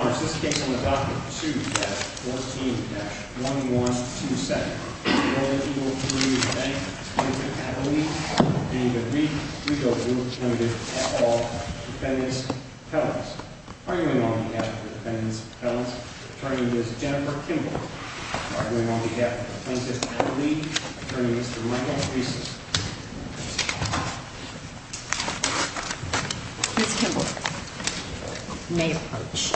At all defendants' appellants. Arguing on behalf of the defendants' appellants, attorney is Jennifer Kimball. Arguing on behalf of the plaintiffs' attorney, attorney is Michael Reese. Ms. Kimball may approach.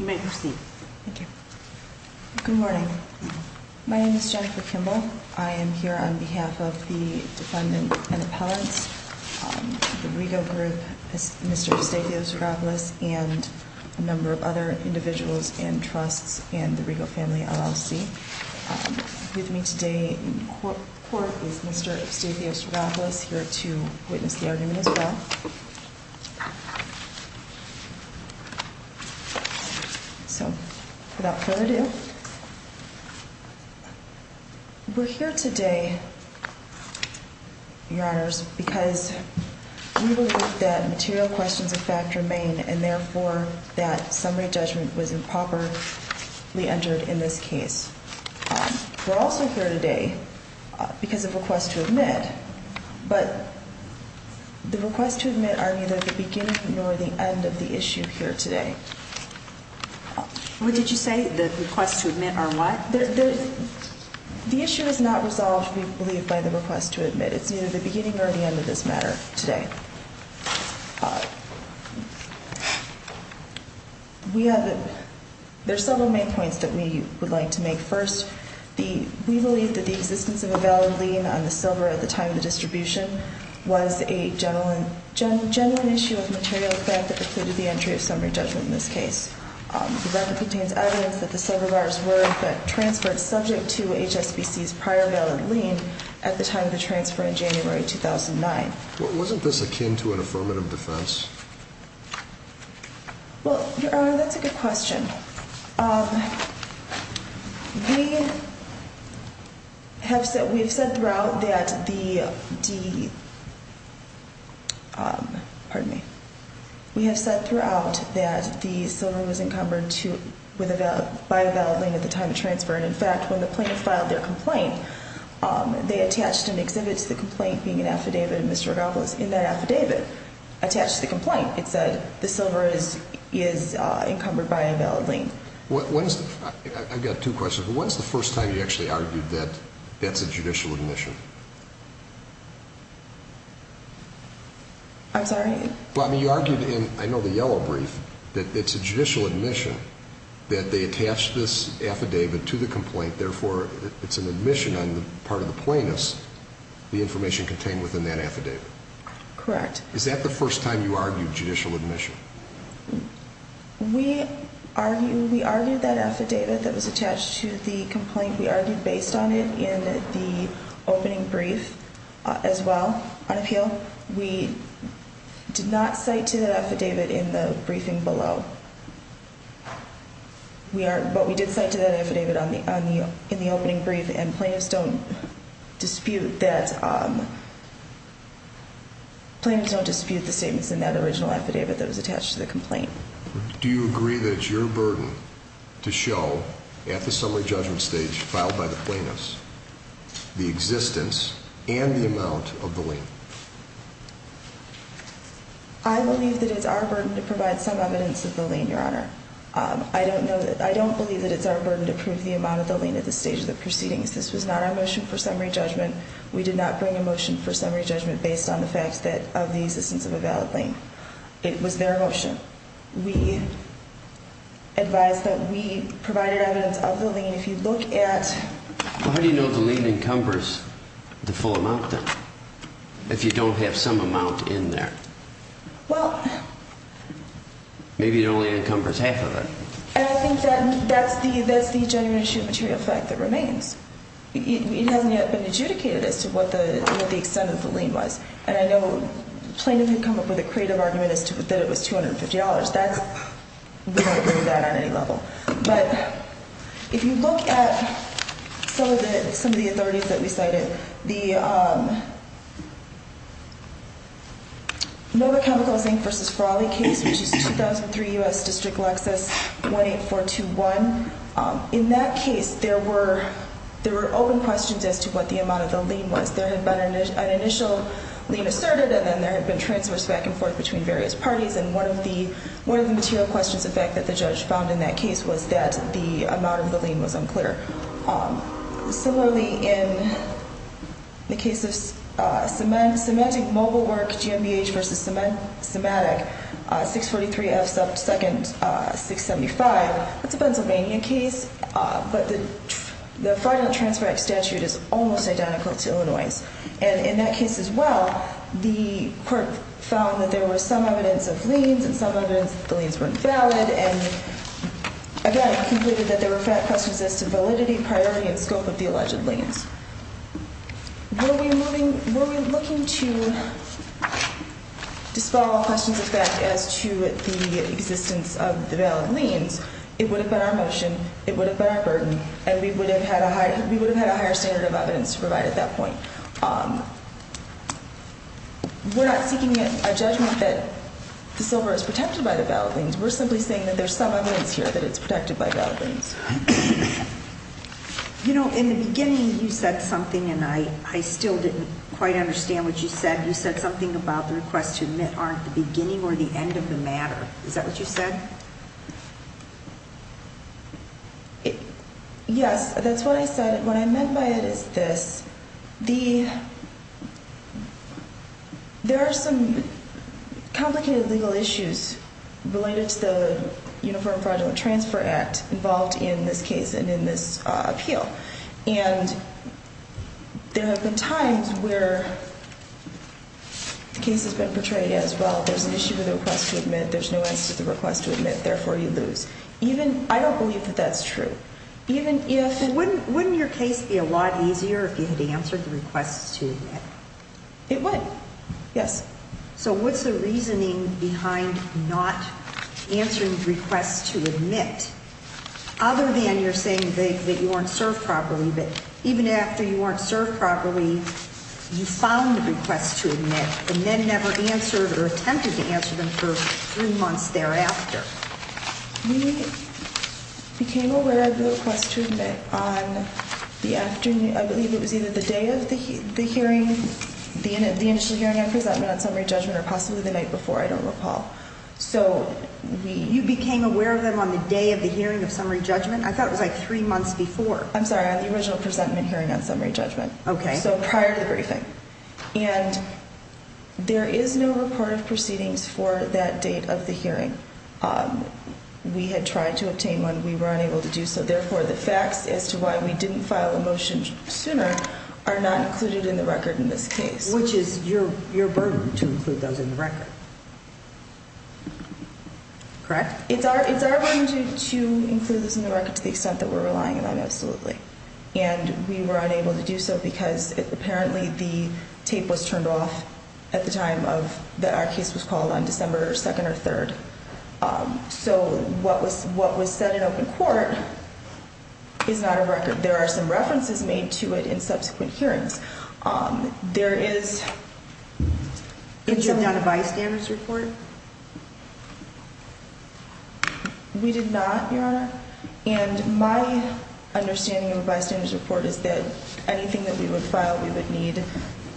You may proceed. Thank you. Good morning. My name is Jennifer Kimball. I am here on behalf of the defendant and appellants, the Rego Group, Mr. Eustachio Zagopoulos and a friend of mine, Mr. Eustachio Zagopoulos. We are here today because we believe that material questions of fact remain and therefore that summary judgment was improperly entered in this case. We're also here today because of requests to admit, but the requests to admit are neither the beginning nor the end of the issue here today. What did you say? The requests to admit are what? The issue is not resolved, we believe, by the request to admit. It's either the beginning or the end of this matter today. There are several main points that we would like to make. First, we believe that the existence of a valid lien on the silver at the time of the distribution was a genuine issue of material fact that precluded the entry of summary judgment in this case. The record contains evidence that the silver bars were transferred subject to HSBC's prior valid lien at the time of the transfer in January 2009. Wasn't this akin to an affirmative defense? Well, Your Honor, that's a good question. We have said throughout that the silver was encumbered with a valid lien at the time of the transfer. In fact, when the plaintiff filed their complaint, they attached an exhibit to the complaint being an affidavit of Mr. Rodolfo's. In that affidavit attached to the complaint, it said the silver is encumbered by a valid lien. I've got two questions. When's the first time you actually argued that that's a judicial admission? I'm sorry? You argued in, I know, the yellow brief that it's a judicial admission that they attached this affidavit to the complaint, therefore it's an admission on the part of the plaintiff's, the information contained within that affidavit. Correct. Is that the first time you argued judicial admission? We argued that affidavit that was attached to the complaint, we argued based on it in the opening brief as well on appeal. No, we did not cite to that affidavit in the briefing below. But we did cite to that affidavit in the opening brief and plaintiffs don't dispute that, plaintiffs don't dispute the statements in that original affidavit that was attached to the complaint. Do you agree that it's your burden to show at the summary judgment stage filed by the plaintiffs the existence and the amount of the lien? I believe that it's our burden to provide some evidence of the lien, Your Honor. I don't believe that it's our burden to prove the amount of the lien at this stage of the proceedings. This was not our motion for summary judgment. We did not bring a motion for summary judgment based on the fact that of the existence of a valid lien. It was their motion. We advise that we provided evidence of the lien. If you look at... How do you know the lien encumbers the full amount, then, if you don't have some amount in there? Well... Maybe it only encumbers half of it. And I think that's the genuine issue of material fact that remains. It hasn't yet been adjudicated as to what the extent of the lien was. And I know plaintiff had come up with a creative argument as to that it was $250. That's... We don't agree with that on any level. But if you look at some of the authorities that we cited, the Nova Chemicals, Inc. v. Faralli case, which is 2003 U.S. District Lexus, 18421, in that case there were open questions as to what the amount of the lien was. There had been an initial lien asserted and then there had been transfers back and forth between various parties. And one of the material questions, in fact, that the judge found in that case was that the amount of the lien was unclear. Similarly, in the case of Symantec Mobile Work, GMBH v. Symantec, 643F 2nd 675, it's a Pennsylvania case, but the fraudulent transfer act statute is almost identical to Illinois'. And in that case as well, the court found that there was some evidence of liens and some evidence that the liens weren't valid. And again, it concluded that there were questions as to validity, priority, and scope of the alleged liens. Were we looking to dispel questions of that as to the existence of the valid liens, it would have been our motion, it would have been our burden, and we would have had a higher standard of evidence to provide at that point. We're not seeking a judgment that the silver is protected by the valid liens. We're simply saying that there's some evidence here that it's protected by valid liens. You know, in the beginning you said something and I still didn't quite understand what you said. You said something about the request to admit aren't the beginning or the end of the matter. Is that what you said? Yes, that's what I said. What I meant by it is this. There are some complicated legal issues related to the Uniform Fraudulent Transfer Act involved in this case and in this appeal. And there have been times where the case has been portrayed as, well, there's an issue with the request to admit, there's no answer to the request to admit, therefore you lose. I don't believe that that's true. Wouldn't your case be a lot easier if you had answered the request to admit? It would, yes. So what's the reasoning behind not answering the request to admit other than you're saying that you weren't served properly, but even after you weren't served properly, you found the request to admit, but then never answered or attempted to answer them for three months thereafter? We became aware of the request to admit on the afternoon, I believe it was either the day of the hearing, the initial hearing or presentment on summary judgment or possibly the night before, I don't recall. So you became aware of them on the day of the hearing of three months before? I'm sorry, on the original presentment hearing on summary judgment. Okay. So prior to the briefing. And there is no report of proceedings for that date of the hearing. We had tried to obtain one. We were unable to do so. Therefore, the facts as to why we didn't file a motion sooner are not included in the record in this case. Which is your burden to include those in the record. Correct? It's our burden to include those in the record to the extent that we're relying on them, absolutely. And we were unable to do so because apparently the tape was turned off at the time that our case was called on December 2nd or 3rd. So what was said in open court is not a record. There are some references made to it in subsequent hearings. There is not a bystanders report? We did not, Your Honor. And my understanding of a bystanders report is that anything that we would file, we would need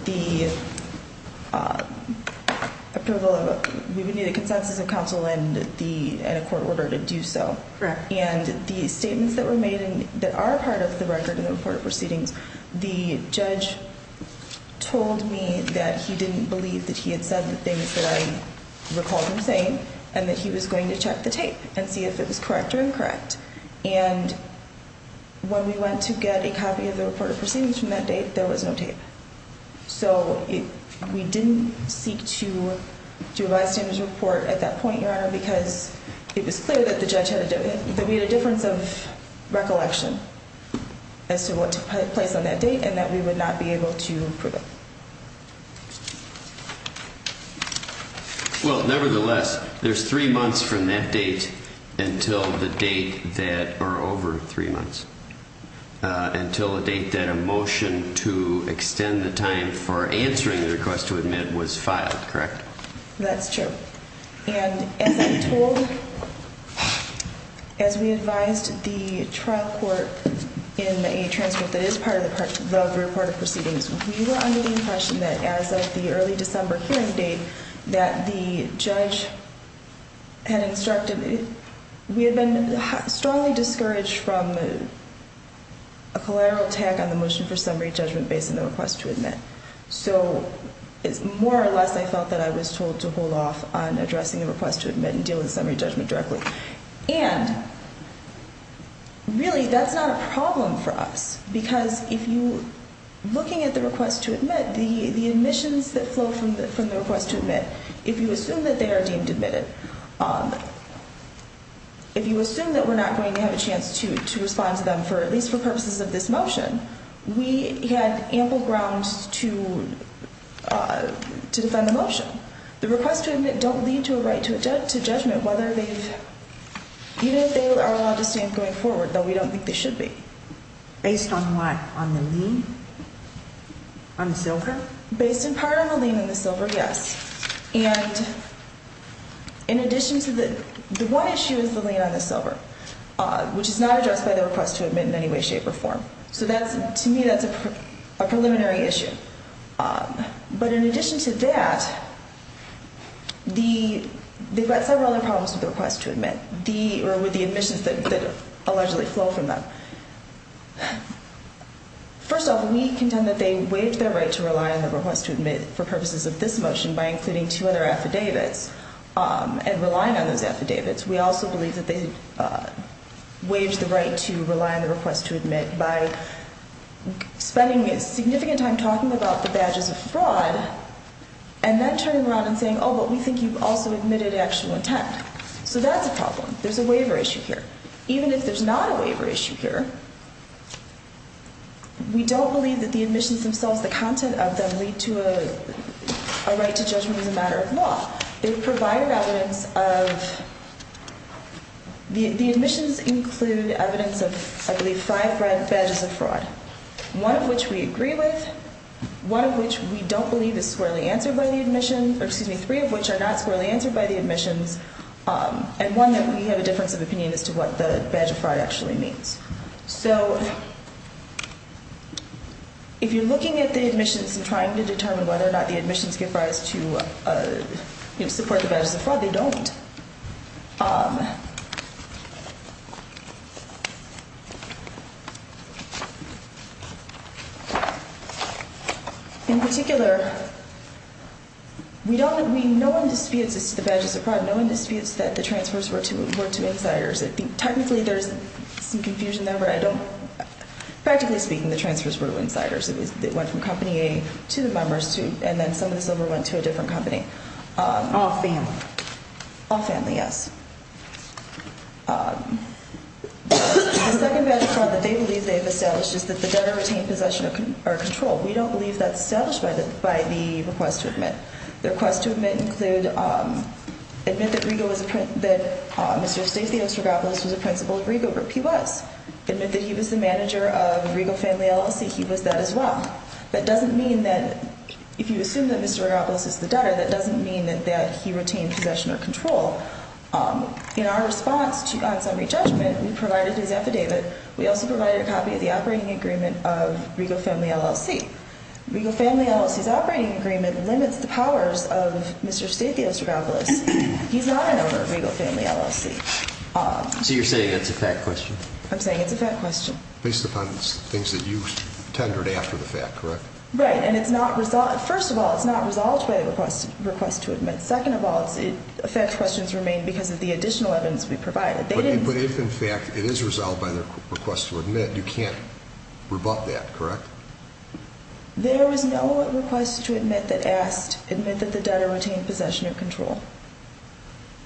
the approval of, we would need a consensus of counsel and a court order to do so. And the statements that were made that are part of the record of proceedings, the judge told me that he didn't believe that he had said the things that I recall him saying and that he was going to check the tape and see if it was correct or incorrect. And when we went to get a copy of the report of proceedings from that date, there was no tape. So we didn't seek to do a bystanders report at that point, Your Honor, because it was clear that the judge had a difference of recollection as to what took place on that date and that we would not be able to prove it. Well, nevertheless, there's three months from that date until the date that, or over three months, until a date that a motion to extend the time for answering the request to admit was filed, correct? That's true. And as I'm told, as we advised the trial court in a transcript that is part of the part of the report of proceedings, we were under the impression that as of the early December hearing date that the judge had instructed, we had been strongly discouraged from a collateral tag on the motion for summary judgment based on the request to admit. So it's more or less I felt that I was told to hold off on addressing the request to admit and deal with the summary judgment directly. And really, that's not a problem for us, because if you're looking at the request to admit, the admissions that flow from the request to admit, if you assume that they are deemed admitted, if you assume that we're not going to have a chance to respond to them, at least for purposes of this motion, we had ample grounds to defend the motion. The request to admit don't lead to a right to judgment whether they've, even if they are allowed to stand going forward, though we don't think they should be. Based on what? On the lien? On the silver? Based in part on the lien and the silver, yes. And in addition to the, the one issue is the lien on the silver, which is not addressed by the request to admit in any way, shape or form. So that's, to me, that's a preliminary issue. But in addition to that, the, they've got several other problems with the request to admit. The, or with the admissions that allegedly flow from them. First off, we contend that they waived their right to rely on the request to admit for purposes of this motion by including two other affidavits and relying on those affidavits. We also believe that they waived the right to rely on the request to admit by spending significant time talking about the badges of fraud and then turning around and saying, oh, but we think you've also admitted actual intent. So that's a problem. There's a waiver issue here. Even if there's not a waiver issue here, we don't believe that the admissions themselves, the content of them, lead to a right to judgment as a result of the, the admissions include evidence of, I believe, five badges of fraud. One of which we agree with, one of which we don't believe is squarely answered by the admission, or excuse me, three of which are not squarely answered by the admissions. And one that we have a difference of opinion as to what the badge of fraud actually means. So if you're looking at the admissions and trying to determine whether or not the admissions give rise to support the badges of fraud, they don't. In particular, we don't, we, no one disputes this to the badges of fraud. No one disputes that the transfers were to, were to insiders. I think technically there's some confusion there, but I don't, practically speaking, the transfers were to insiders. It went from All family. All family, yes. The second badge of fraud that they believe they've established is that the debtor retained possession or control. We don't believe that's established by the, by the request to admit. The request to admit included, admit that Rego was a, that Mr. Stacy Ostergopoulos was a principal at Rego Group. He was. Admit that he was the manager of Rego Family LLC. He was that as well. That doesn't mean that if you assume that Mr. Ostergopoulos is the debtor, that doesn't mean that, that he retained possession or control. In our response to consummary judgment, we provided his affidavit. We also provided a copy of the operating agreement of Rego Family LLC. Rego Family LLC's operating agreement limits the powers of Mr. Stacy Ostergopoulos. He's not an owner of Rego Family LLC. So you're saying it's a fact question? I'm saying it's a fact question. Based upon things that you tendered after the fact, correct? Right. And it's not, first of all, it's not resolved by the request, request to admit. Second of all, it's a fact questions remain because of the additional evidence we provided. But if in fact it is resolved by the request to admit, you can't rebut that, correct? There was no request to admit that asked, admit that the debtor retained possession or control.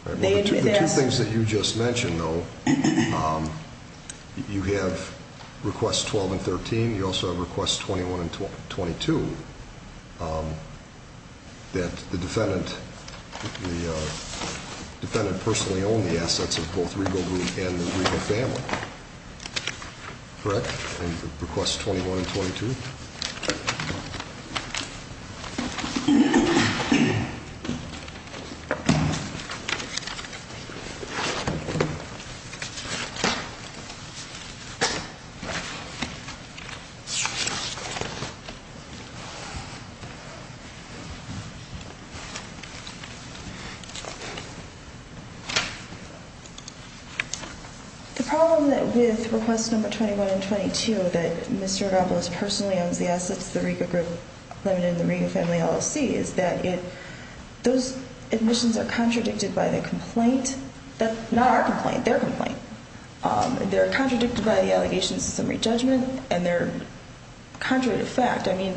The two things that you just mentioned though, you have requests 12 and 13. You also have requests 21 and 22 that the defendant, the defendant personally owned the assets of both Rego Group and the Rego Family, correct? The problem that with requests number 21 and 22 that Mr. Ostergopoulos personally owns the assets of the Rego Group Limited and the Rego Family LLC is that it, those admissions are contradicted by the complaint, not our complaint, their complaint. They're contradicted by the allegations of summary judgment and they're contrary to fact. I mean,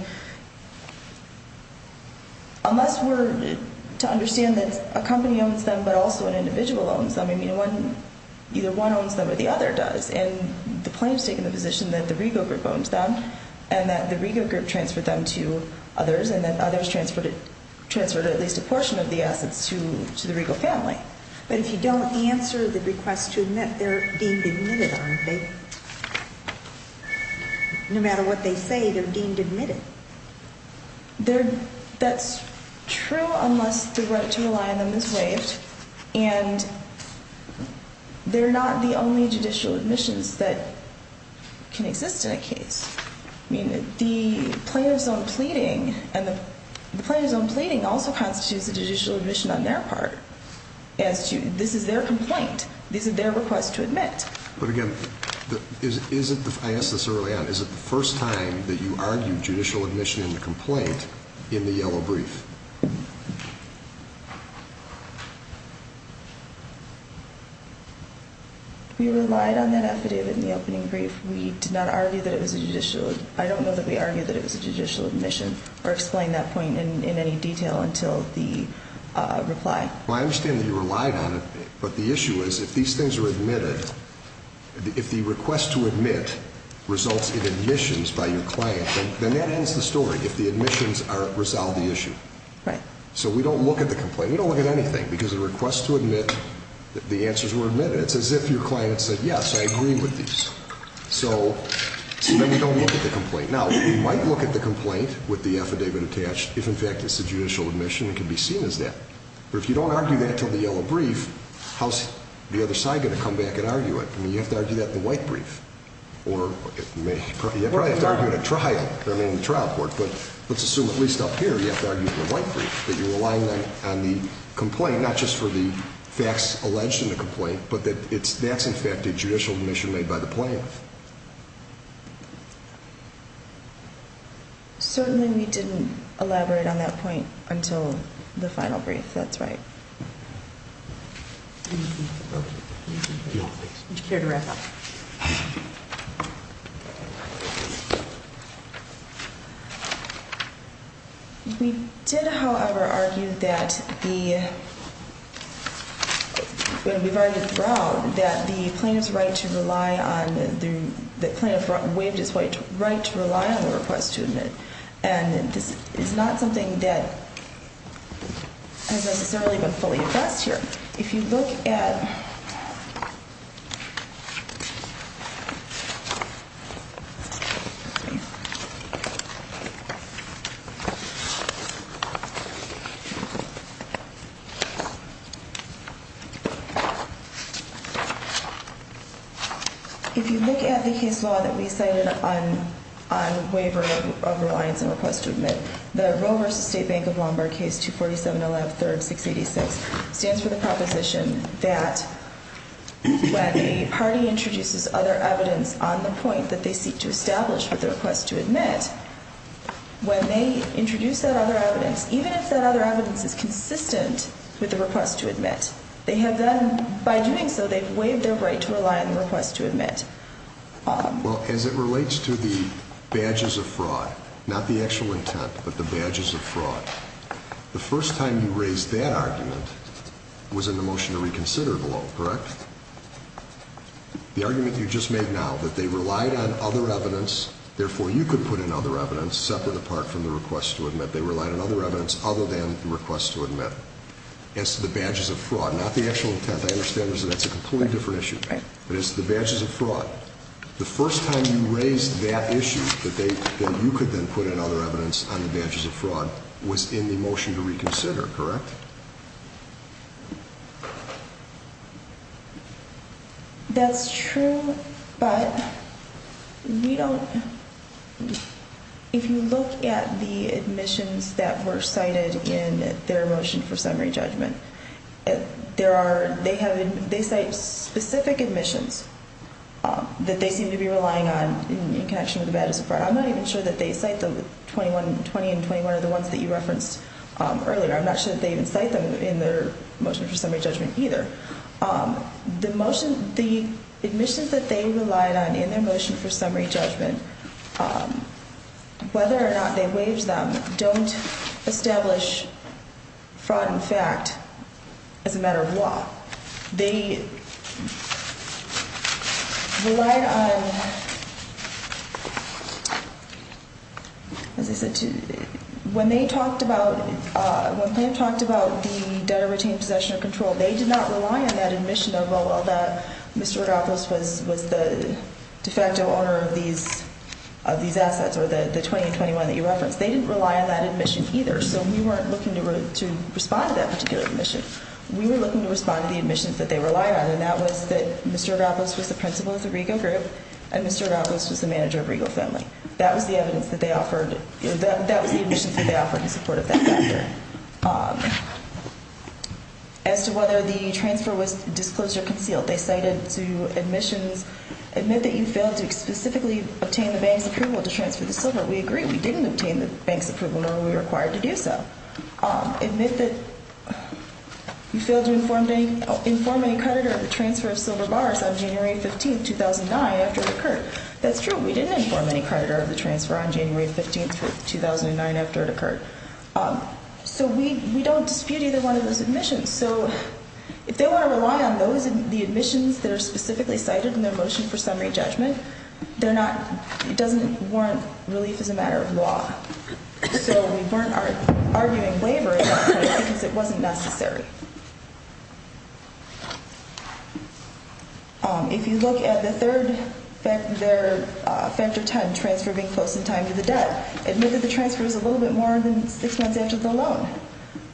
unless we're to understand that a company owns them but also an individual owns them, I mean, either one owns them or the other does. And the plaintiff's taking the position that the Rego Group owns them and that the Rego Group transferred them to others and that others transferred at least a portion of the assets to the Rego Family. But if you don't answer the request to admit, they're deemed admitted, aren't they? No matter what they say, they're deemed admitted. That's true unless the right to rely on them is waived and they're not the only judicial admissions that can exist in a case. I mean, the plaintiff's own pleading and the plaintiff's own pleading also constitutes a judicial admission on their part as to this is their complaint. This is their request to admit. But again, is it, I asked this early on, is it the first time that you argued judicial admission in the complaint in the yellow brief? We relied on that affidavit in the opening brief. We did not argue that it was a judicial, I don't know that we argued that it was a judicial admission or explain that point in any detail until the reply. Well, I understand that you relied on it, but the issue is if these things are admitted, if the request to admit results in admissions by your client, then that ends the story if the admissions resolve the issue. Right. So we don't look at the complaint. We don't look at anything because the request to admit, the answers were admitted. It's as if your client said, yes, I agree with these. So then we don't look at the complaint. Now, we might look at the complaint with the affidavit attached if, in fact, it's a judicial admission and can be seen as that. But if you don't argue that until the yellow brief, how's the other side going to come back and argue it? I mean, you have to argue that in the white brief. Or you probably have to argue it at trial. I mean, in the trial court. But let's assume at least up here you have to argue it in the white brief, that you're relying on the complaint, not just for the facts alleged in the complaint, but that that's, in fact, a judicial admission made by the plaintiff. Certainly we didn't elaborate on that point until the final brief. That's right. We did, however, argue that the plaintiff's right to rely on the plaintiff waived his right to rely on the request to admit. And this is not something that has necessarily been fully addressed here. If you look at the case law that we cited on waiver of reliance on request to admit, the Roe v. State Bank of Lombard case 247.113.686 stands for the proposition that when a party introduces other evidence on the point that they seek to establish with the request to admit, when they introduce that other evidence, even if that other evidence is consistent with the request to admit, they have then, by doing so, they've waived their right to rely on the request to admit. Well, as it relates to the badges of fraud, not the actual intent, but the badges of fraud, the first time you raised that argument was in the motion to reconsider the law, correct? The argument that you just made now, that they relied on other evidence, therefore you could put in other evidence separate apart from the request to admit. They relied on other evidence other than the request to admit. As to the badges of fraud, not the actual intent, I understand that's a completely different issue. But it's the badges of fraud. The first time you raised that issue, that you could then put in other evidence on the badges of fraud, was in the motion to reconsider, correct? That's true, but we don't... If you look at the admissions that were cited in their motion for summary judgment, they cite specific admissions that they seem to be relying on in connection with the badges of fraud. I'm not even sure that they cite the 21, 20 and 21 are the ones that you referenced earlier. I'm not sure that they even cite them in their motion for summary judgment either. The admissions that they relied on in their motion for summary judgment, whether or not they waived them, don't establish fraud in fact as a matter of law. They relied on, as I said, when they talked about the debtor-retained possession of control, they did not rely on that admission of, oh, well, Mr. Rogopoulos was the de facto owner of these assets, or the 20 and 21 that you referenced. They didn't rely on that admission either, so we weren't looking to respond to that particular admission. We were looking to respond to the admissions that they relied on, and that was that Mr. Rogopoulos was the principal of the Rego Group, and Mr. Rogopoulos was the manager of Rego Family. That was the admissions that they offered in support of that factor. As to whether the transfer was disclosed or concealed, they cited to admissions, admit that you failed to specifically obtain the bank's approval to transfer the silver. We agree we didn't obtain the bank's approval nor were we required to do so. Admit that you failed to inform any creditor of the transfer of silver bars on January 15, 2009, after it occurred. That's true. We didn't inform any creditor of the transfer on January 15, 2009, after it occurred. So we don't dispute either one of those admissions. If they want to rely on the admissions that are specifically cited in their motion for summary judgment, it doesn't warrant relief as a matter of law. So we weren't arguing waiver in that case because it wasn't necessary. If you look at the third factor, factor 10, transfer being close in time to the debt, admit that the transfer was a little bit more than six months after the loan.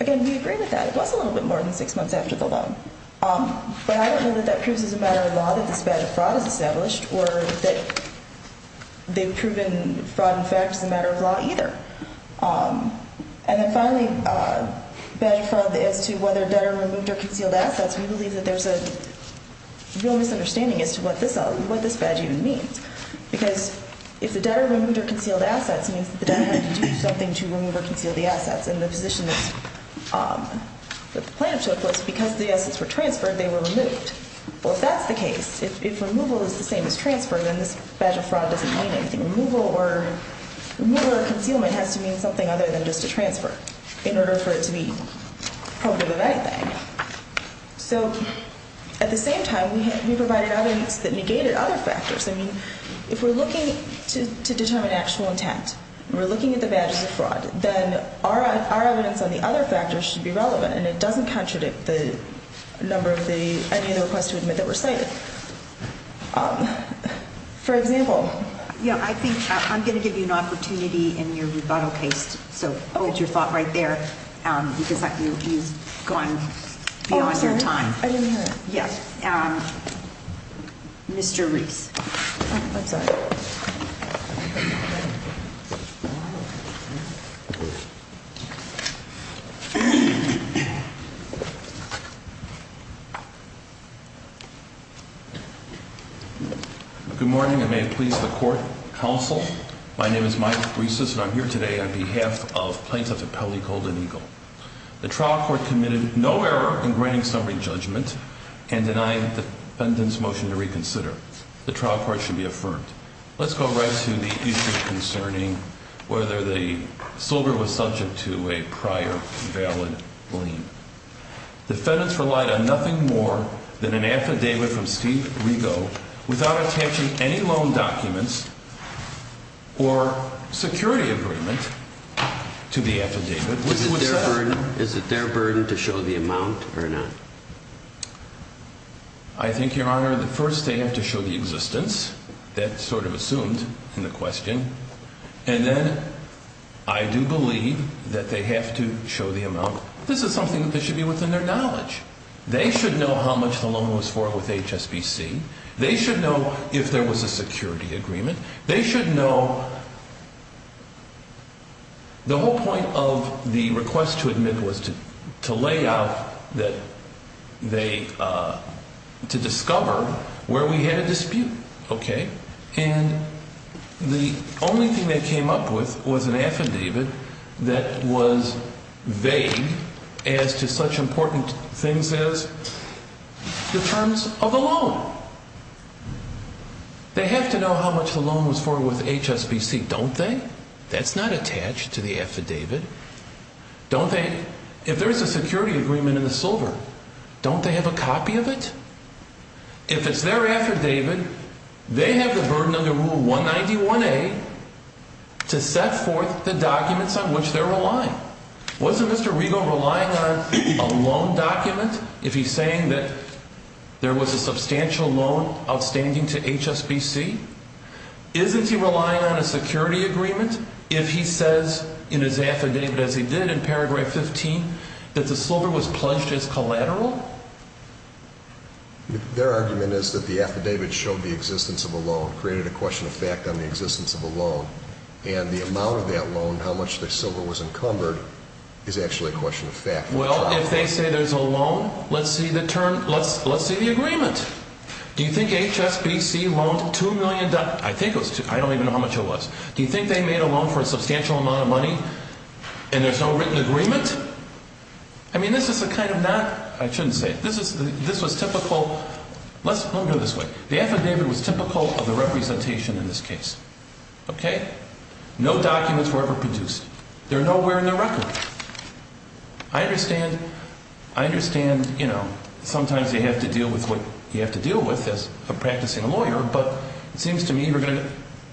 Again, we agree with that. It was a little bit more than six months after the loan. But I don't know that that proves as a matter of law that this badge of fraud is established or that they've proven fraud, in fact, is a matter of law either. And then finally, badge of fraud as to whether debtor removed or concealed assets. We believe that there's a real misunderstanding as to what this badge even means because if the debtor removed or concealed assets, it means that the debtor had to do something to remove or conceal the assets. And the position that the plaintiff took was because the assets were transferred, they were removed. Well, if that's the case, if removal is the same as transfer, then this badge of fraud doesn't mean anything. Removal or concealment has to mean something other than just a transfer in order for it to be probative of anything. So at the same time, we provided evidence that negated other factors. I mean, if we're looking to determine actual intent and we're looking at the badges of fraud, then our evidence on the other factors should be relevant, and it doesn't contradict the number of any of the requests to admit that were cited. For example. Yeah, I think I'm going to give you an opportunity in your rebuttal case. So hold your thought right there because you've gone beyond your time. I didn't hear it. Yes. Mr. Reese. I'm sorry. Good morning, and may it please the court, counsel. My name is Mike Reese, and I'm here today on behalf of Plaintiff Appellee Golden Eagle. The trial court committed no error in granting summary judgment and denying the defendant's motion to reconsider. The trial court should be affirmed. Let's go right to the issue concerning whether the silver was subject to a prior valid lien. Defendants relied on nothing more than an affidavit from Steve Rigo without attaching any loan documents or security agreement to the affidavit. Is it their burden to show the amount or not? I think, Your Honor, that first they have to show the existence. That's sort of assumed in the question. And then I do believe that they have to show the amount. This is something that should be within their knowledge. They should know how much the loan was for with HSBC. They should know if there was a security agreement. They should know the whole point of the request to admit was to lay out that they to discover where we had a dispute. OK. And the only thing they came up with was an affidavit that was vague as to such important things as the terms of the loan. They have to know how much the loan was for with HSBC, don't they? That's not attached to the affidavit. Don't they? If there is a security agreement in the silver, don't they have a copy of it? If it's their affidavit, they have the burden under Rule 191A to set forth the documents on which they're relying. Wasn't Mr. Rego relying on a loan document if he's saying that there was a substantial loan outstanding to HSBC? Isn't he relying on a security agreement if he says in his affidavit, as he did in paragraph 15, that the silver was pledged as collateral? Their argument is that the affidavit showed the existence of a loan, created a question of fact on the existence of a loan. And the amount of that loan, how much the silver was encumbered, is actually a question of fact. Well, if they say there's a loan, let's see the agreement. Do you think HSBC loaned $2 million? I don't even know how much it was. Do you think they made a loan for a substantial amount of money and there's no written agreement? I mean, this is a kind of not – I shouldn't say it. This was typical – let me go this way. The affidavit was typical of the representation in this case, okay? No documents were ever produced. They're nowhere in the record. I understand, you know, sometimes you have to deal with what you have to deal with as a practicing lawyer, but it seems to me you're going to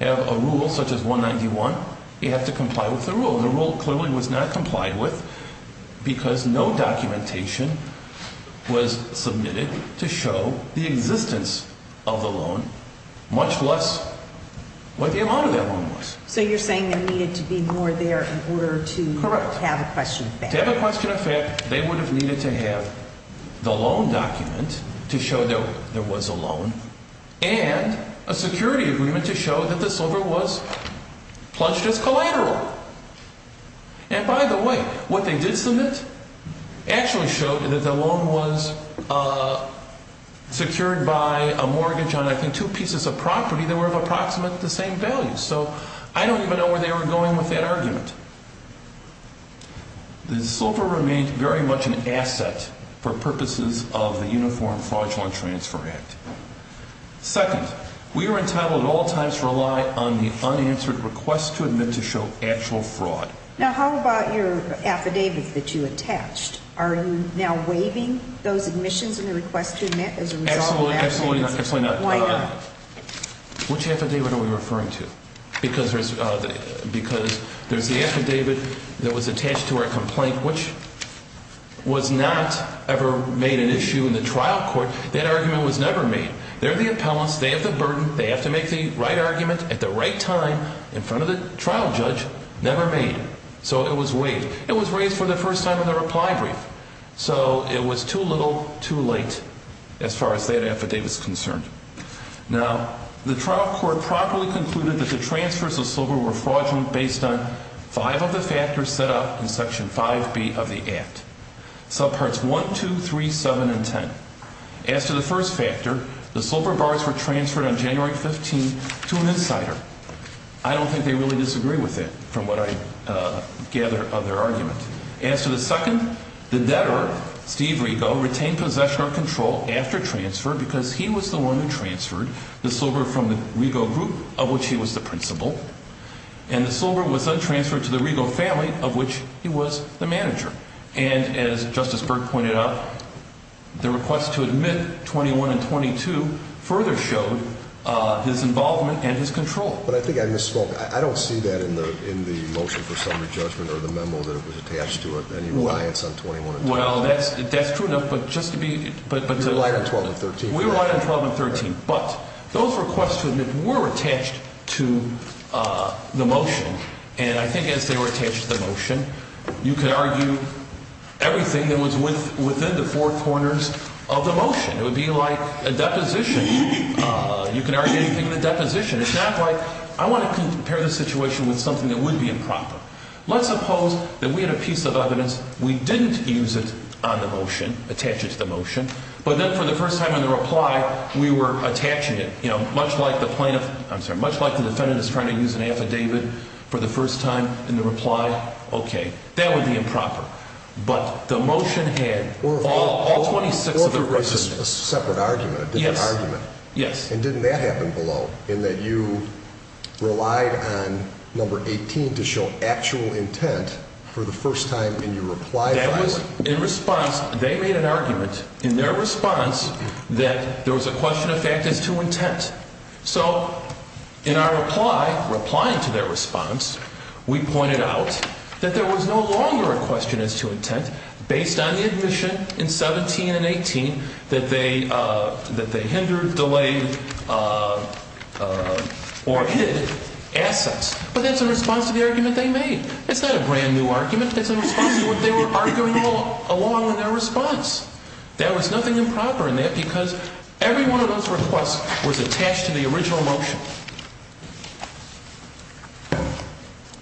have a rule such as 191. You have to comply with the rule. The rule clearly was not complied with because no documentation was submitted to show the existence of the loan, much less what the amount of that loan was. So you're saying there needed to be more there in order to have a question of fact. To have a question of fact, they would have needed to have the loan document to show that there was a loan and a security agreement to show that the silver was pledged as collateral. And by the way, what they did submit actually showed that the loan was secured by a mortgage on, I think, two pieces of property that were of approximate the same value. So I don't even know where they were going with that argument. The silver remained very much an asset for purposes of the Uniform Fraudulent Transfer Act. Second, we are entitled at all times to rely on the unanswered request to admit to show actual fraud. Now, how about your affidavit that you attached? Are you now waiving those admissions and the request to admit as a result of that? Absolutely not. Why not? Which affidavit are we referring to? Because there's the affidavit that was attached to our complaint, which was not ever made an issue in the trial court. That argument was never made. They're the appellants. They have the burden. They have to make the right argument at the right time in front of the trial judge. Never made. So it was waived. It was waived for the first time in the reply brief. So it was too little, too late as far as that affidavit is concerned. Now, the trial court properly concluded that the transfers of silver were fraudulent based on five of the factors set up in Section 5B of the Act. Subparts 1, 2, 3, 7, and 10. As to the first factor, the silver bars were transferred on January 15 to an insider. I don't think they really disagree with that from what I gather of their argument. As to the second, the debtor, Steve Rego, retained possession or control after transfer because he was the one who transferred the silver from the Rego group, of which he was the principal. And the silver was then transferred to the Rego family, of which he was the manager. And as Justice Burke pointed out, the request to admit 21 and 22 further showed his involvement and his control. But I think I misspoke. I don't see that in the motion for summary judgment or the memo that was attached to it, any reliance on 21 and 22. Well, that's true enough, but just to be – You relied on 12 and 13. We relied on 12 and 13. But those requests to admit were attached to the motion. And I think as they were attached to the motion, you could argue everything that was within the four corners of the motion. It would be like a deposition. You could argue anything in the deposition. It's not like I want to compare the situation with something that would be improper. Let's suppose that we had a piece of evidence. We didn't use it on the motion, attach it to the motion. But then for the first time in the reply, we were attaching it, you know, much like the plaintiff – I'm sorry, much like the defendant is trying to use an affidavit for the first time in the reply. Okay. That would be improper. But the motion had all 26 of the questions. Or if there was a separate argument, a different argument. Yes, yes. And didn't that happen below in that you relied on number 18 to show actual intent for the first time in your reply? That was in response. They made an argument in their response that there was a question of fact as to intent. So in our reply, replying to their response, we pointed out that there was no longer a question as to intent based on the admission in 17 and 18 that they hindered, delayed, or hid assets. But that's in response to the argument they made. It's not a brand-new argument. That's in response to what they were arguing along in their response. There was nothing improper in that because every one of those requests was attached to the original motion.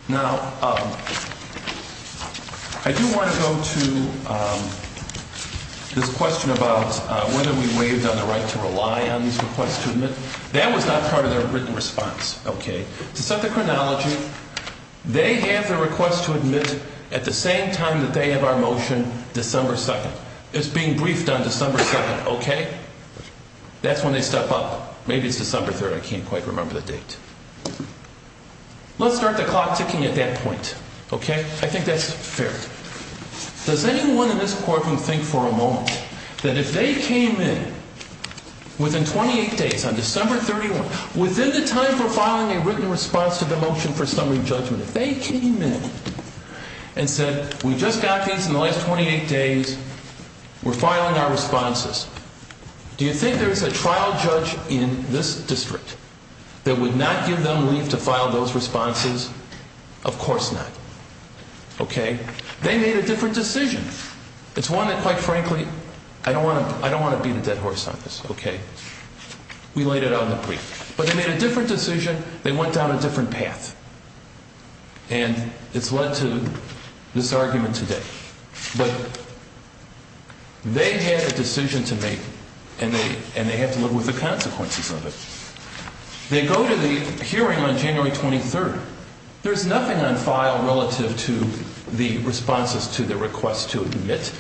Now, I do want to go to this question about whether we waived on the right to rely on these requests to admit. That was not part of their written response. Okay. To set the chronology, they have the request to admit at the same time that they have our motion, December 2nd. It's being briefed on December 7th. Okay? That's when they step up. Maybe it's December 3rd. I can't quite remember the date. Let's start the clock ticking at that point. Okay? I think that's fair. Does anyone in this courtroom think for a moment that if they came in within 28 days, on December 31st, within the time for filing a written response to the motion for summary judgment, if they came in and said, we just got these in the last 28 days, we're filing our responses, do you think there's a trial judge in this district that would not give them leave to file those responses? Of course not. Okay? They made a different decision. It's one that, quite frankly, I don't want to beat a dead horse on this. Okay? We laid it out in the brief. But they made a different decision. They went down a different path. And it's led to this argument today. But they had a decision to make, and they have to live with the consequences of it. They go to the hearing on January 23rd. There's nothing on file relative to the responses to the request to admit.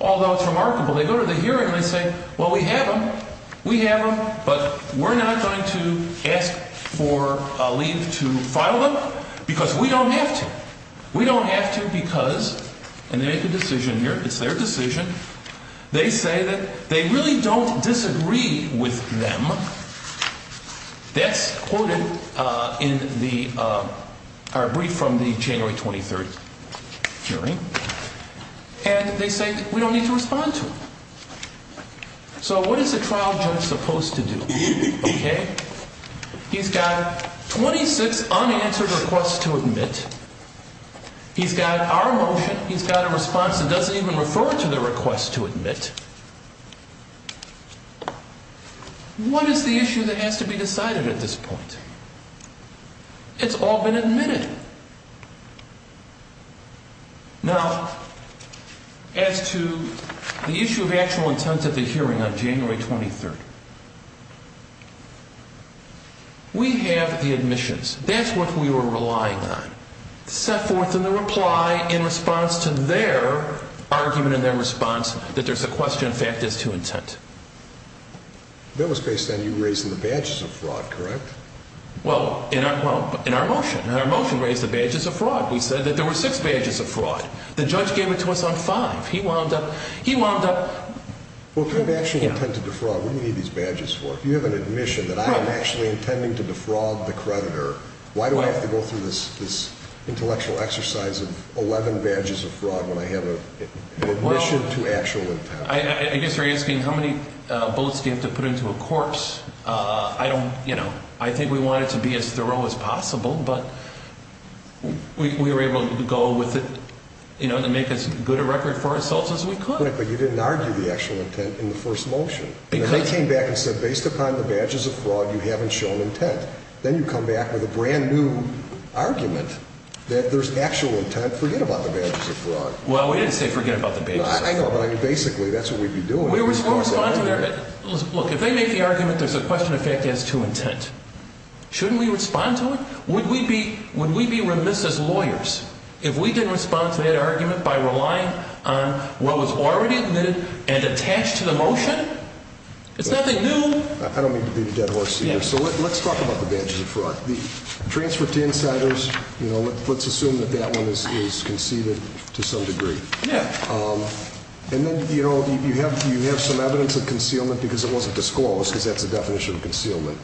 Although it's remarkable. They go to the hearing and they say, well, we have them. We have them. But we're not going to ask for leave to file them because we don't have to. We don't have to because, and they make a decision here. It's their decision. They say that they really don't disagree with them. That's quoted in our brief from the January 23rd hearing. And they say we don't need to respond to them. So what is a trial judge supposed to do? Okay? He's got 26 unanswered requests to admit. He's got our motion. He's got a response that doesn't even refer to the request to admit. What is the issue that has to be decided at this point? It's all been admitted. Now, as to the issue of actual intent of the hearing on January 23rd, we have the admissions. That's what we were relying on. Set forth in the reply in response to their argument and their response that there's a question of fact as to intent. That was based on you raising the badges of fraud, correct? Well, in our motion. In our motion, we raised the badges of fraud. We said that there were six badges of fraud. The judge gave it to us on five. He wound up. He wound up. Well, if you had actually intended to fraud, what do you need these badges for? If you have an admission that I am actually intending to defraud the creditor, why do I have to go through this intellectual exercise of 11 badges of fraud when I have an admission to actual intent? I guess you're asking how many bullets do you have to put into a corpse. I don't, you know, I think we want it to be as thorough as possible, but we were able to go with it, you know, and make as good a record for ourselves as we could. But you didn't argue the actual intent in the first motion. They came back and said, based upon the badges of fraud, you haven't shown intent. Then you come back with a brand-new argument that there's actual intent. Forget about the badges of fraud. Well, we didn't say forget about the badges of fraud. I know, but basically that's what we'd be doing. We respond to their argument. Look, if they make the argument there's a question of fact as to intent, shouldn't we respond to it? Would we be remiss as lawyers if we didn't respond to that argument by relying on what was already admitted and attached to the motion? It's nothing new. I don't mean to be the dead horse here. So let's talk about the badges of fraud. The transfer to insiders, you know, let's assume that that one is conceded to some degree. Yeah. And then, you know, you have some evidence of concealment because it wasn't disclosed, because that's the definition of concealment.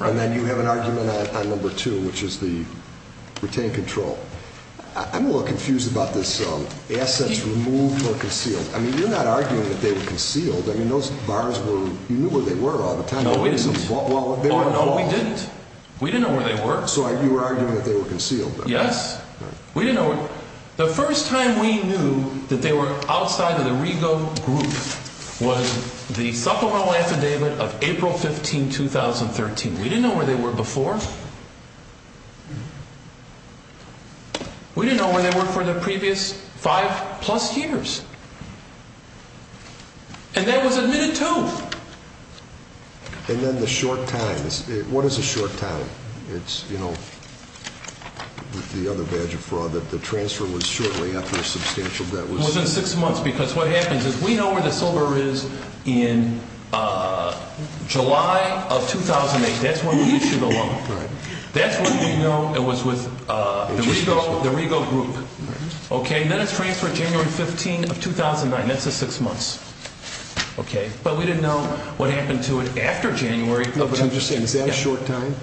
And then you have an argument on number two, which is the retained control. I'm a little confused about this assets removed or concealed. I mean, you're not arguing that they were concealed. I mean, those bars were—you knew where they were all the time. No, we didn't. Well, they were— No, we didn't. We didn't know where they were. So you were arguing that they were concealed. Yes. We didn't know—the first time we knew that they were outside of the Rego group was the supplemental affidavit of April 15, 2013. We didn't know where they were before. We didn't know where they were for the previous five-plus years. And that was admitted too. And then the short times. What is a short time? It's, you know, the other badge of fraud, that the transfer was shortly after a substantial debt was— It was in six months because what happens is we know where the silver is in July of 2008. That's when we issued the loan. That's when we know it was with the Rego group. And then it's transferred January 15 of 2009. That's the six months. But we didn't know what happened to it after January of 2013. Is that a short time?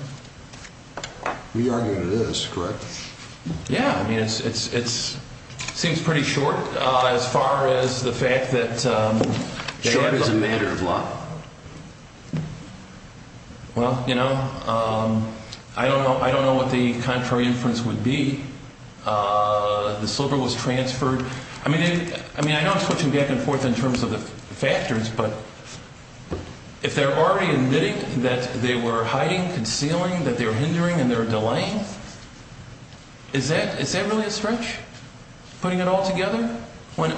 We argue that it is, correct? Yeah, I mean, it seems pretty short as far as the fact that— Short as a matter of law? Well, you know, I don't know what the contrary inference would be. The silver was transferred. I mean, I know I'm switching back and forth in terms of the factors, but if they're already admitting that they were hiding, concealing, that they were hindering and they were delaying, is that really a stretch? Putting it all together when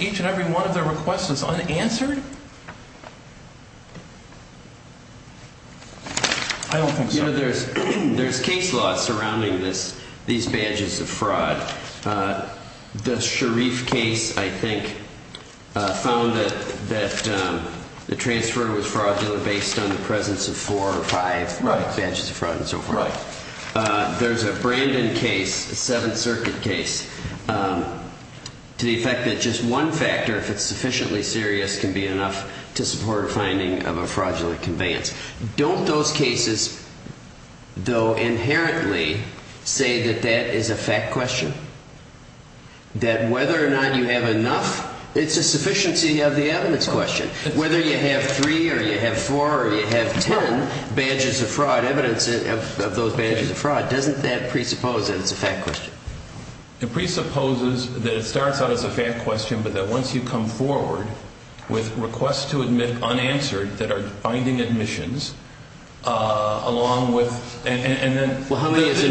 each and every one of their requests was unanswered? I don't think so. You know, there's case law surrounding these badges of fraud. The Sharif case, I think, found that the transfer was fraudulent based on the presence of four or five badges of fraud and so forth. There's a Brandon case, a Seventh Circuit case, to the effect that just one factor, if it's sufficiently serious, can be enough to support a finding of a fraudulent conveyance. Don't those cases, though, inherently say that that is a fact question? That whether or not you have enough, it's a sufficiency of the evidence question. Whether you have three or you have four or you have ten badges of fraud, evidence of those badges of fraud, doesn't that presuppose that it's a fact question? It presupposes that it starts out as a fact question, but that once you come forward with requests to admit unanswered that are binding admissions along with and then it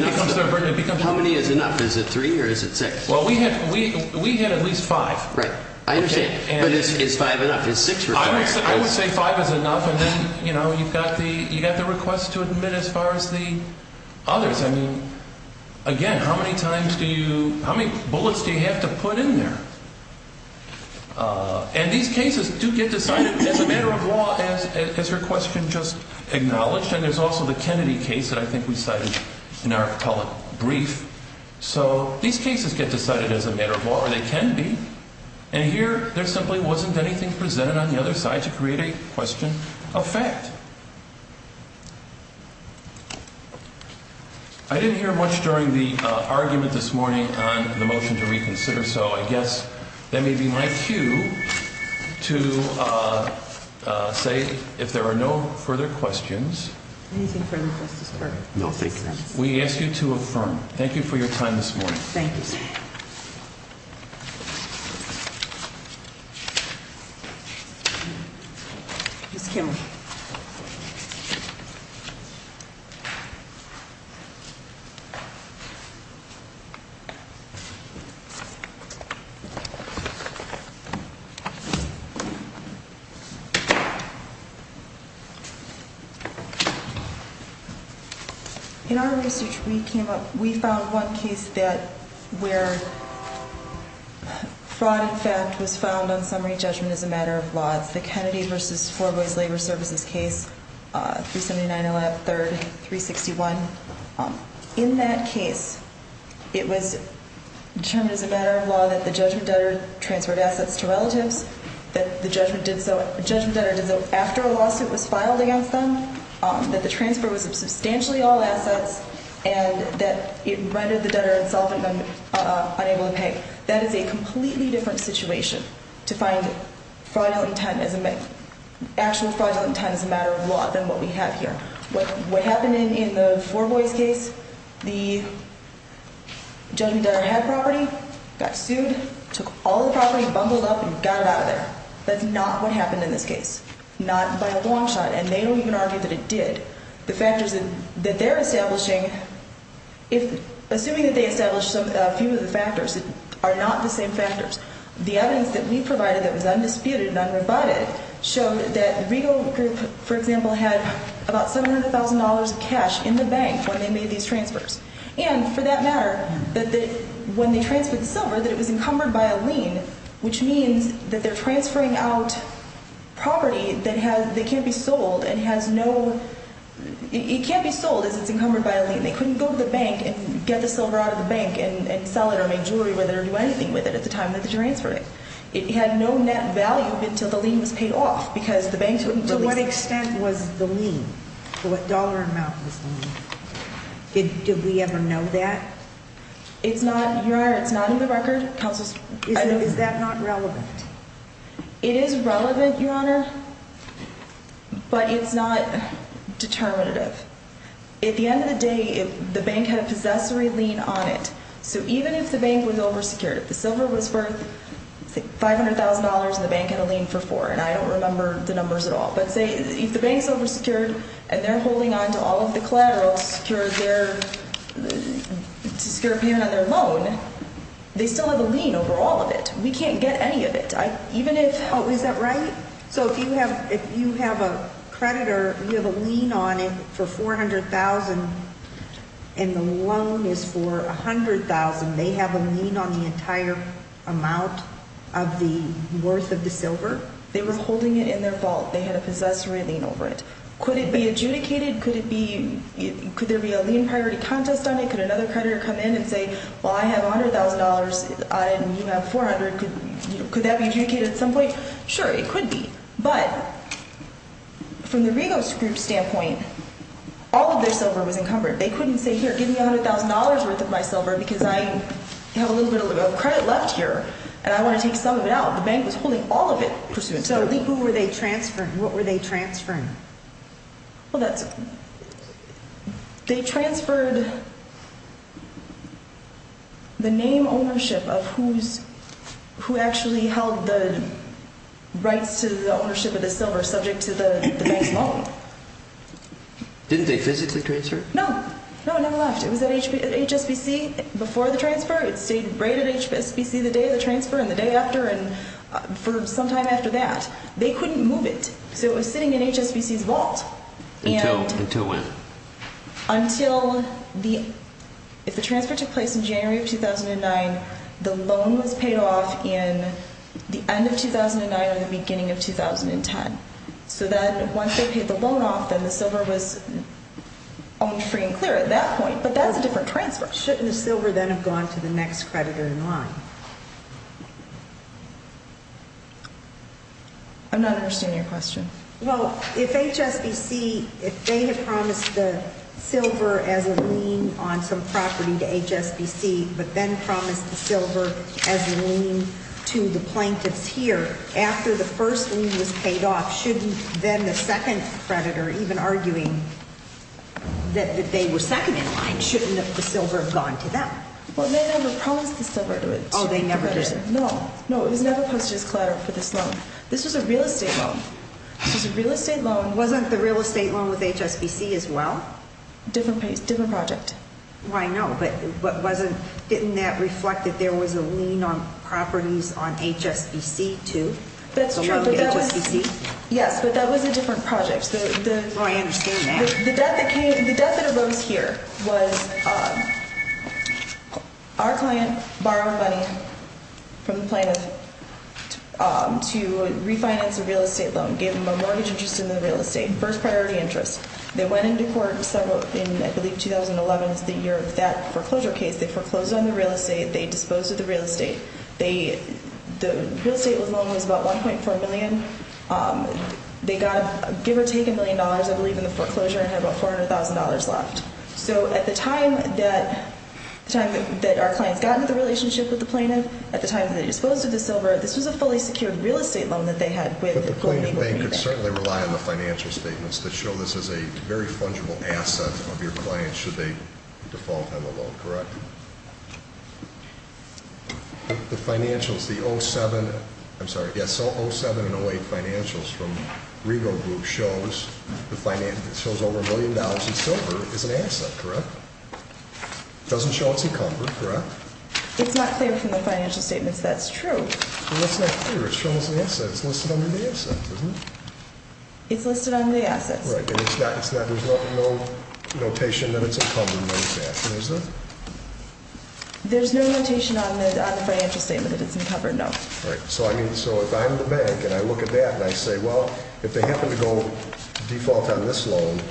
becomes a burden. How many is enough? Is it three or is it six? Well, we had at least five. Right. I understand. But is five enough? Is six enough? I would say five is enough and then, you know, you've got the requests to admit as far as the others. I mean, again, how many bullets do you have to put in there? And these cases do get decided as a matter of law, as your question just acknowledged, and there's also the Kennedy case that I think we cited in our telebrief. So these cases get decided as a matter of law, or they can be, and here there simply wasn't anything presented on the other side to create a question of fact. I didn't hear much during the argument this morning on the motion to reconsider, so I guess that may be my cue to say if there are no further questions. Anything further, Justice Garland? No, thank you. We ask you to affirm. Thank you for your time this morning. Thank you, sir. Ms. Kimley. Thank you. In our research, we found one case where fraud in fact was found on summary judgment as a matter of law. It's the Kennedy v. Four Boys Labor Services case, 379-11-3, 361. In that case, it was determined as a matter of law that the judgment debtor transferred assets to relatives, that the judgment debtor did so after a lawsuit was filed against them, that the transfer was of substantially all assets, and that it rendered the debtor himself unable to pay. That is a completely different situation to find actual fraudulent intent as a matter of law than what we have here. What happened in the Four Boys case, the judgment debtor had property, got sued, took all the property, bumbled up, and got it out of there. That's not what happened in this case, not by a long shot, and they don't even argue that it did. The factors that they're establishing, assuming that they established a few of the factors, are not the same factors. The evidence that we provided that was undisputed and unrebutted showed that the Rego group, for example, had about $700,000 of cash in the bank when they made these transfers, and for that matter, that when they transferred the silver, that it was encumbered by a lien, which means that they're transferring out property that can't be sold and has no – it can't be sold as it's encumbered by a lien. They couldn't go to the bank and get the silver out of the bank and sell it or make jewelry with it or do anything with it at the time that they transferred it. It had no net value until the lien was paid off because the banks wouldn't release it. To what extent was the lien? To what dollar amount was the lien? Did we ever know that? It's not – Your Honor, it's not in the record. Counsel's – Is that not relevant? It is relevant, Your Honor, but it's not determinative. At the end of the day, the bank had a possessory lien on it, so even if the bank was oversecured, if the silver was worth, say, $500,000 and the bank had a lien for four, and I don't remember the numbers at all, but say if the bank's oversecured and they're holding on to all of the collateral to secure a payment on their loan, they still have a lien over all of it. We can't get any of it. Oh, is that right? So if you have a creditor, you have a lien on it for $400,000 and the loan is for $100,000, they have a lien on the entire amount of the worth of the silver? They were holding it in their vault. They had a possessory lien over it. Could it be adjudicated? Could there be a lien priority contest on it? Could another creditor come in and say, well, I have $100,000 on it and you have $400,000. Could that be adjudicated at some point? Sure, it could be. But from the Rigos Group's standpoint, all of their silver was encumbered. They couldn't say, here, give me $100,000 worth of my silver because I have a little bit of credit left here and I want to take some of it out. The bank was holding all of it pursuant to their lien. So who were they transferring? What were they transferring? Well, they transferred the name ownership of who actually held the rights to the ownership of the silver subject to the bank's loan. Didn't they physically transfer it? No. No, it never left. It was at HSBC before the transfer. It stayed right at HSBC the day of the transfer and the day after and for some time after that. They couldn't move it. So it was sitting in HSBC's vault. Until when? If the transfer took place in January of 2009, the loan was paid off in the end of 2009 or the beginning of 2010. So then once they paid the loan off, then the silver was owned free and clear at that point. But that's a different transfer. Shouldn't the silver then have gone to the next creditor in line? I'm not understanding your question. Well, if HSBC, if they had promised the silver as a lien on some property to HSBC but then promised the silver as a lien to the plaintiffs here, after the first lien was paid off, shouldn't then the second creditor, even arguing that they were second in line, shouldn't the silver have gone to them? Oh, they never did. No, no, it was never posted as collateral for this loan. This was a real estate loan. This was a real estate loan. Wasn't the real estate loan with HSBC as well? Different project. Well, I know, but didn't that reflect that there was a lien on properties on HSBC too? Yes, but that was a different project. Oh, I understand that. The debt that arose here was our client borrowed money from the plaintiff to refinance a real estate loan, gave them a mortgage interest in the real estate, first priority interest. They went into court in, I believe, 2011 is the year of that foreclosure case. They foreclosed on the real estate. They disposed of the real estate. The real estate loan was about $1.4 million. They got, give or take, $1 million, I believe, in the foreclosure and had about $400,000 left. So at the time that our clients got into the relationship with the plaintiff, at the time that they disposed of the silver, this was a fully secured real estate loan that they had. But the plaintiff bank could certainly rely on the financial statements that show this is a very fungible asset of your client should they default on the loan, correct? The financials, the 07, I'm sorry, yes, 07 and 08 financials from Rego Group shows the finance, it shows over a million dollars in silver is an asset, correct? It doesn't show it's encumbered, correct? It's not clear from the financial statements that's true. Well, that's not clear. It shows the asset. It's listed under the assets, isn't it? It's listed under the assets. Right. And it's not, there's no notation that it's encumbered, no? There's no notation on the financial statement that it's encumbered, no. Right. So I mean, so if I'm the bank and I look at that and I say, well, if they happen to go default on this loan,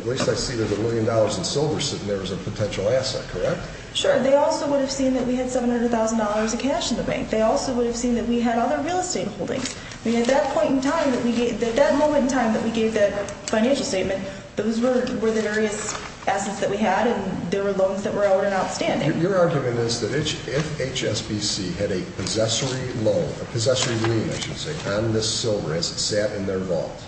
at least I see there's a million dollars in silver sitting there as a potential asset, correct? Sure. They also would have seen that we had $700,000 of cash in the bank. They also would have seen that we had other real estate holdings. I mean, at that point in time that we gave, at that moment in time that we gave that financial statement, those were the various assets that we had, and there were loans that were out and outstanding. Your argument is that if HSBC had a possessory loan, a possessory lien, I should say, on this silver as it sat in their vault,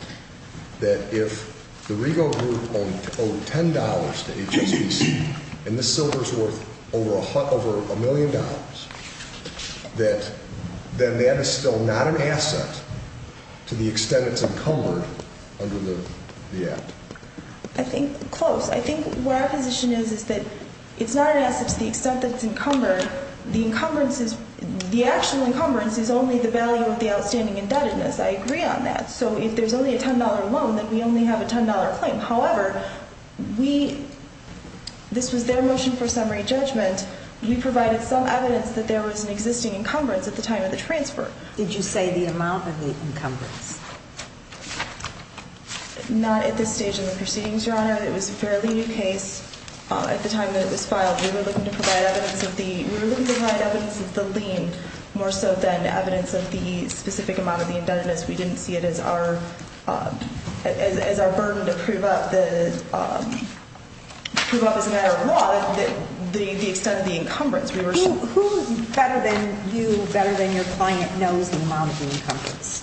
that if the Rego Group owed $10 to HSBC and this silver is worth over a million dollars, that then that is still not an asset to the extent it's encumbered under the Act? I think close. I think where our position is is that it's not an asset to the extent that it's encumbered. The actual encumbrance is only the value of the outstanding indebtedness. I agree on that. So if there's only a $10 loan, then we only have a $10 claim. However, this was their motion for summary judgment. We provided some evidence that there was an existing encumbrance at the time of the transfer. Did you say the amount of the encumbrance? Not at this stage in the proceedings, Your Honor. It was a fairly new case. At the time that it was filed, we were looking to provide evidence of the lien more so than evidence of the specific amount of the indebtedness. We didn't see it as our burden to prove up as a matter of law the extent of the encumbrance. Who better than you, better than your client, knows the amount of the encumbrance?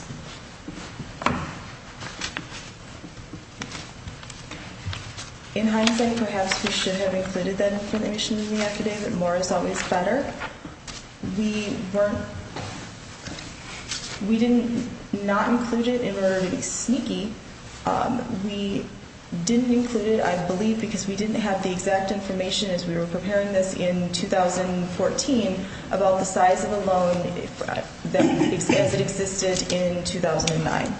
In hindsight, perhaps we should have included that information in the affidavit. More is always better. We didn't not include it in order to be sneaky. We didn't include it, I believe, because we didn't have the exact information as we were preparing this in 2014 about the size of a loan as it existed in 2009.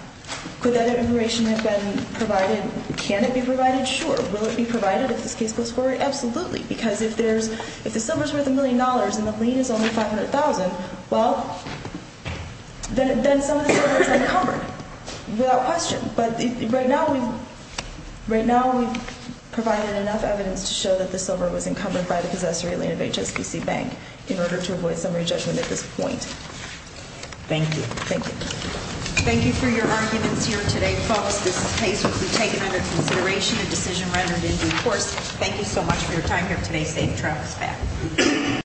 Could that information have been provided? Can it be provided? Sure. Will it be provided if this case goes forward? Absolutely. Because if the silver is worth $1 million and the lien is only $500,000, well, then some of the silver is encumbered without question. But right now we've provided enough evidence to show that the silver was encumbered by the possessory lien of HSBC Bank in order to avoid summary judgment at this point. Thank you. Thank you. Thank you for your arguments here today, folks. This case will be taken under consideration, a decision rendered in due course. Thank you so much for your time here today, Steve. The trial is back.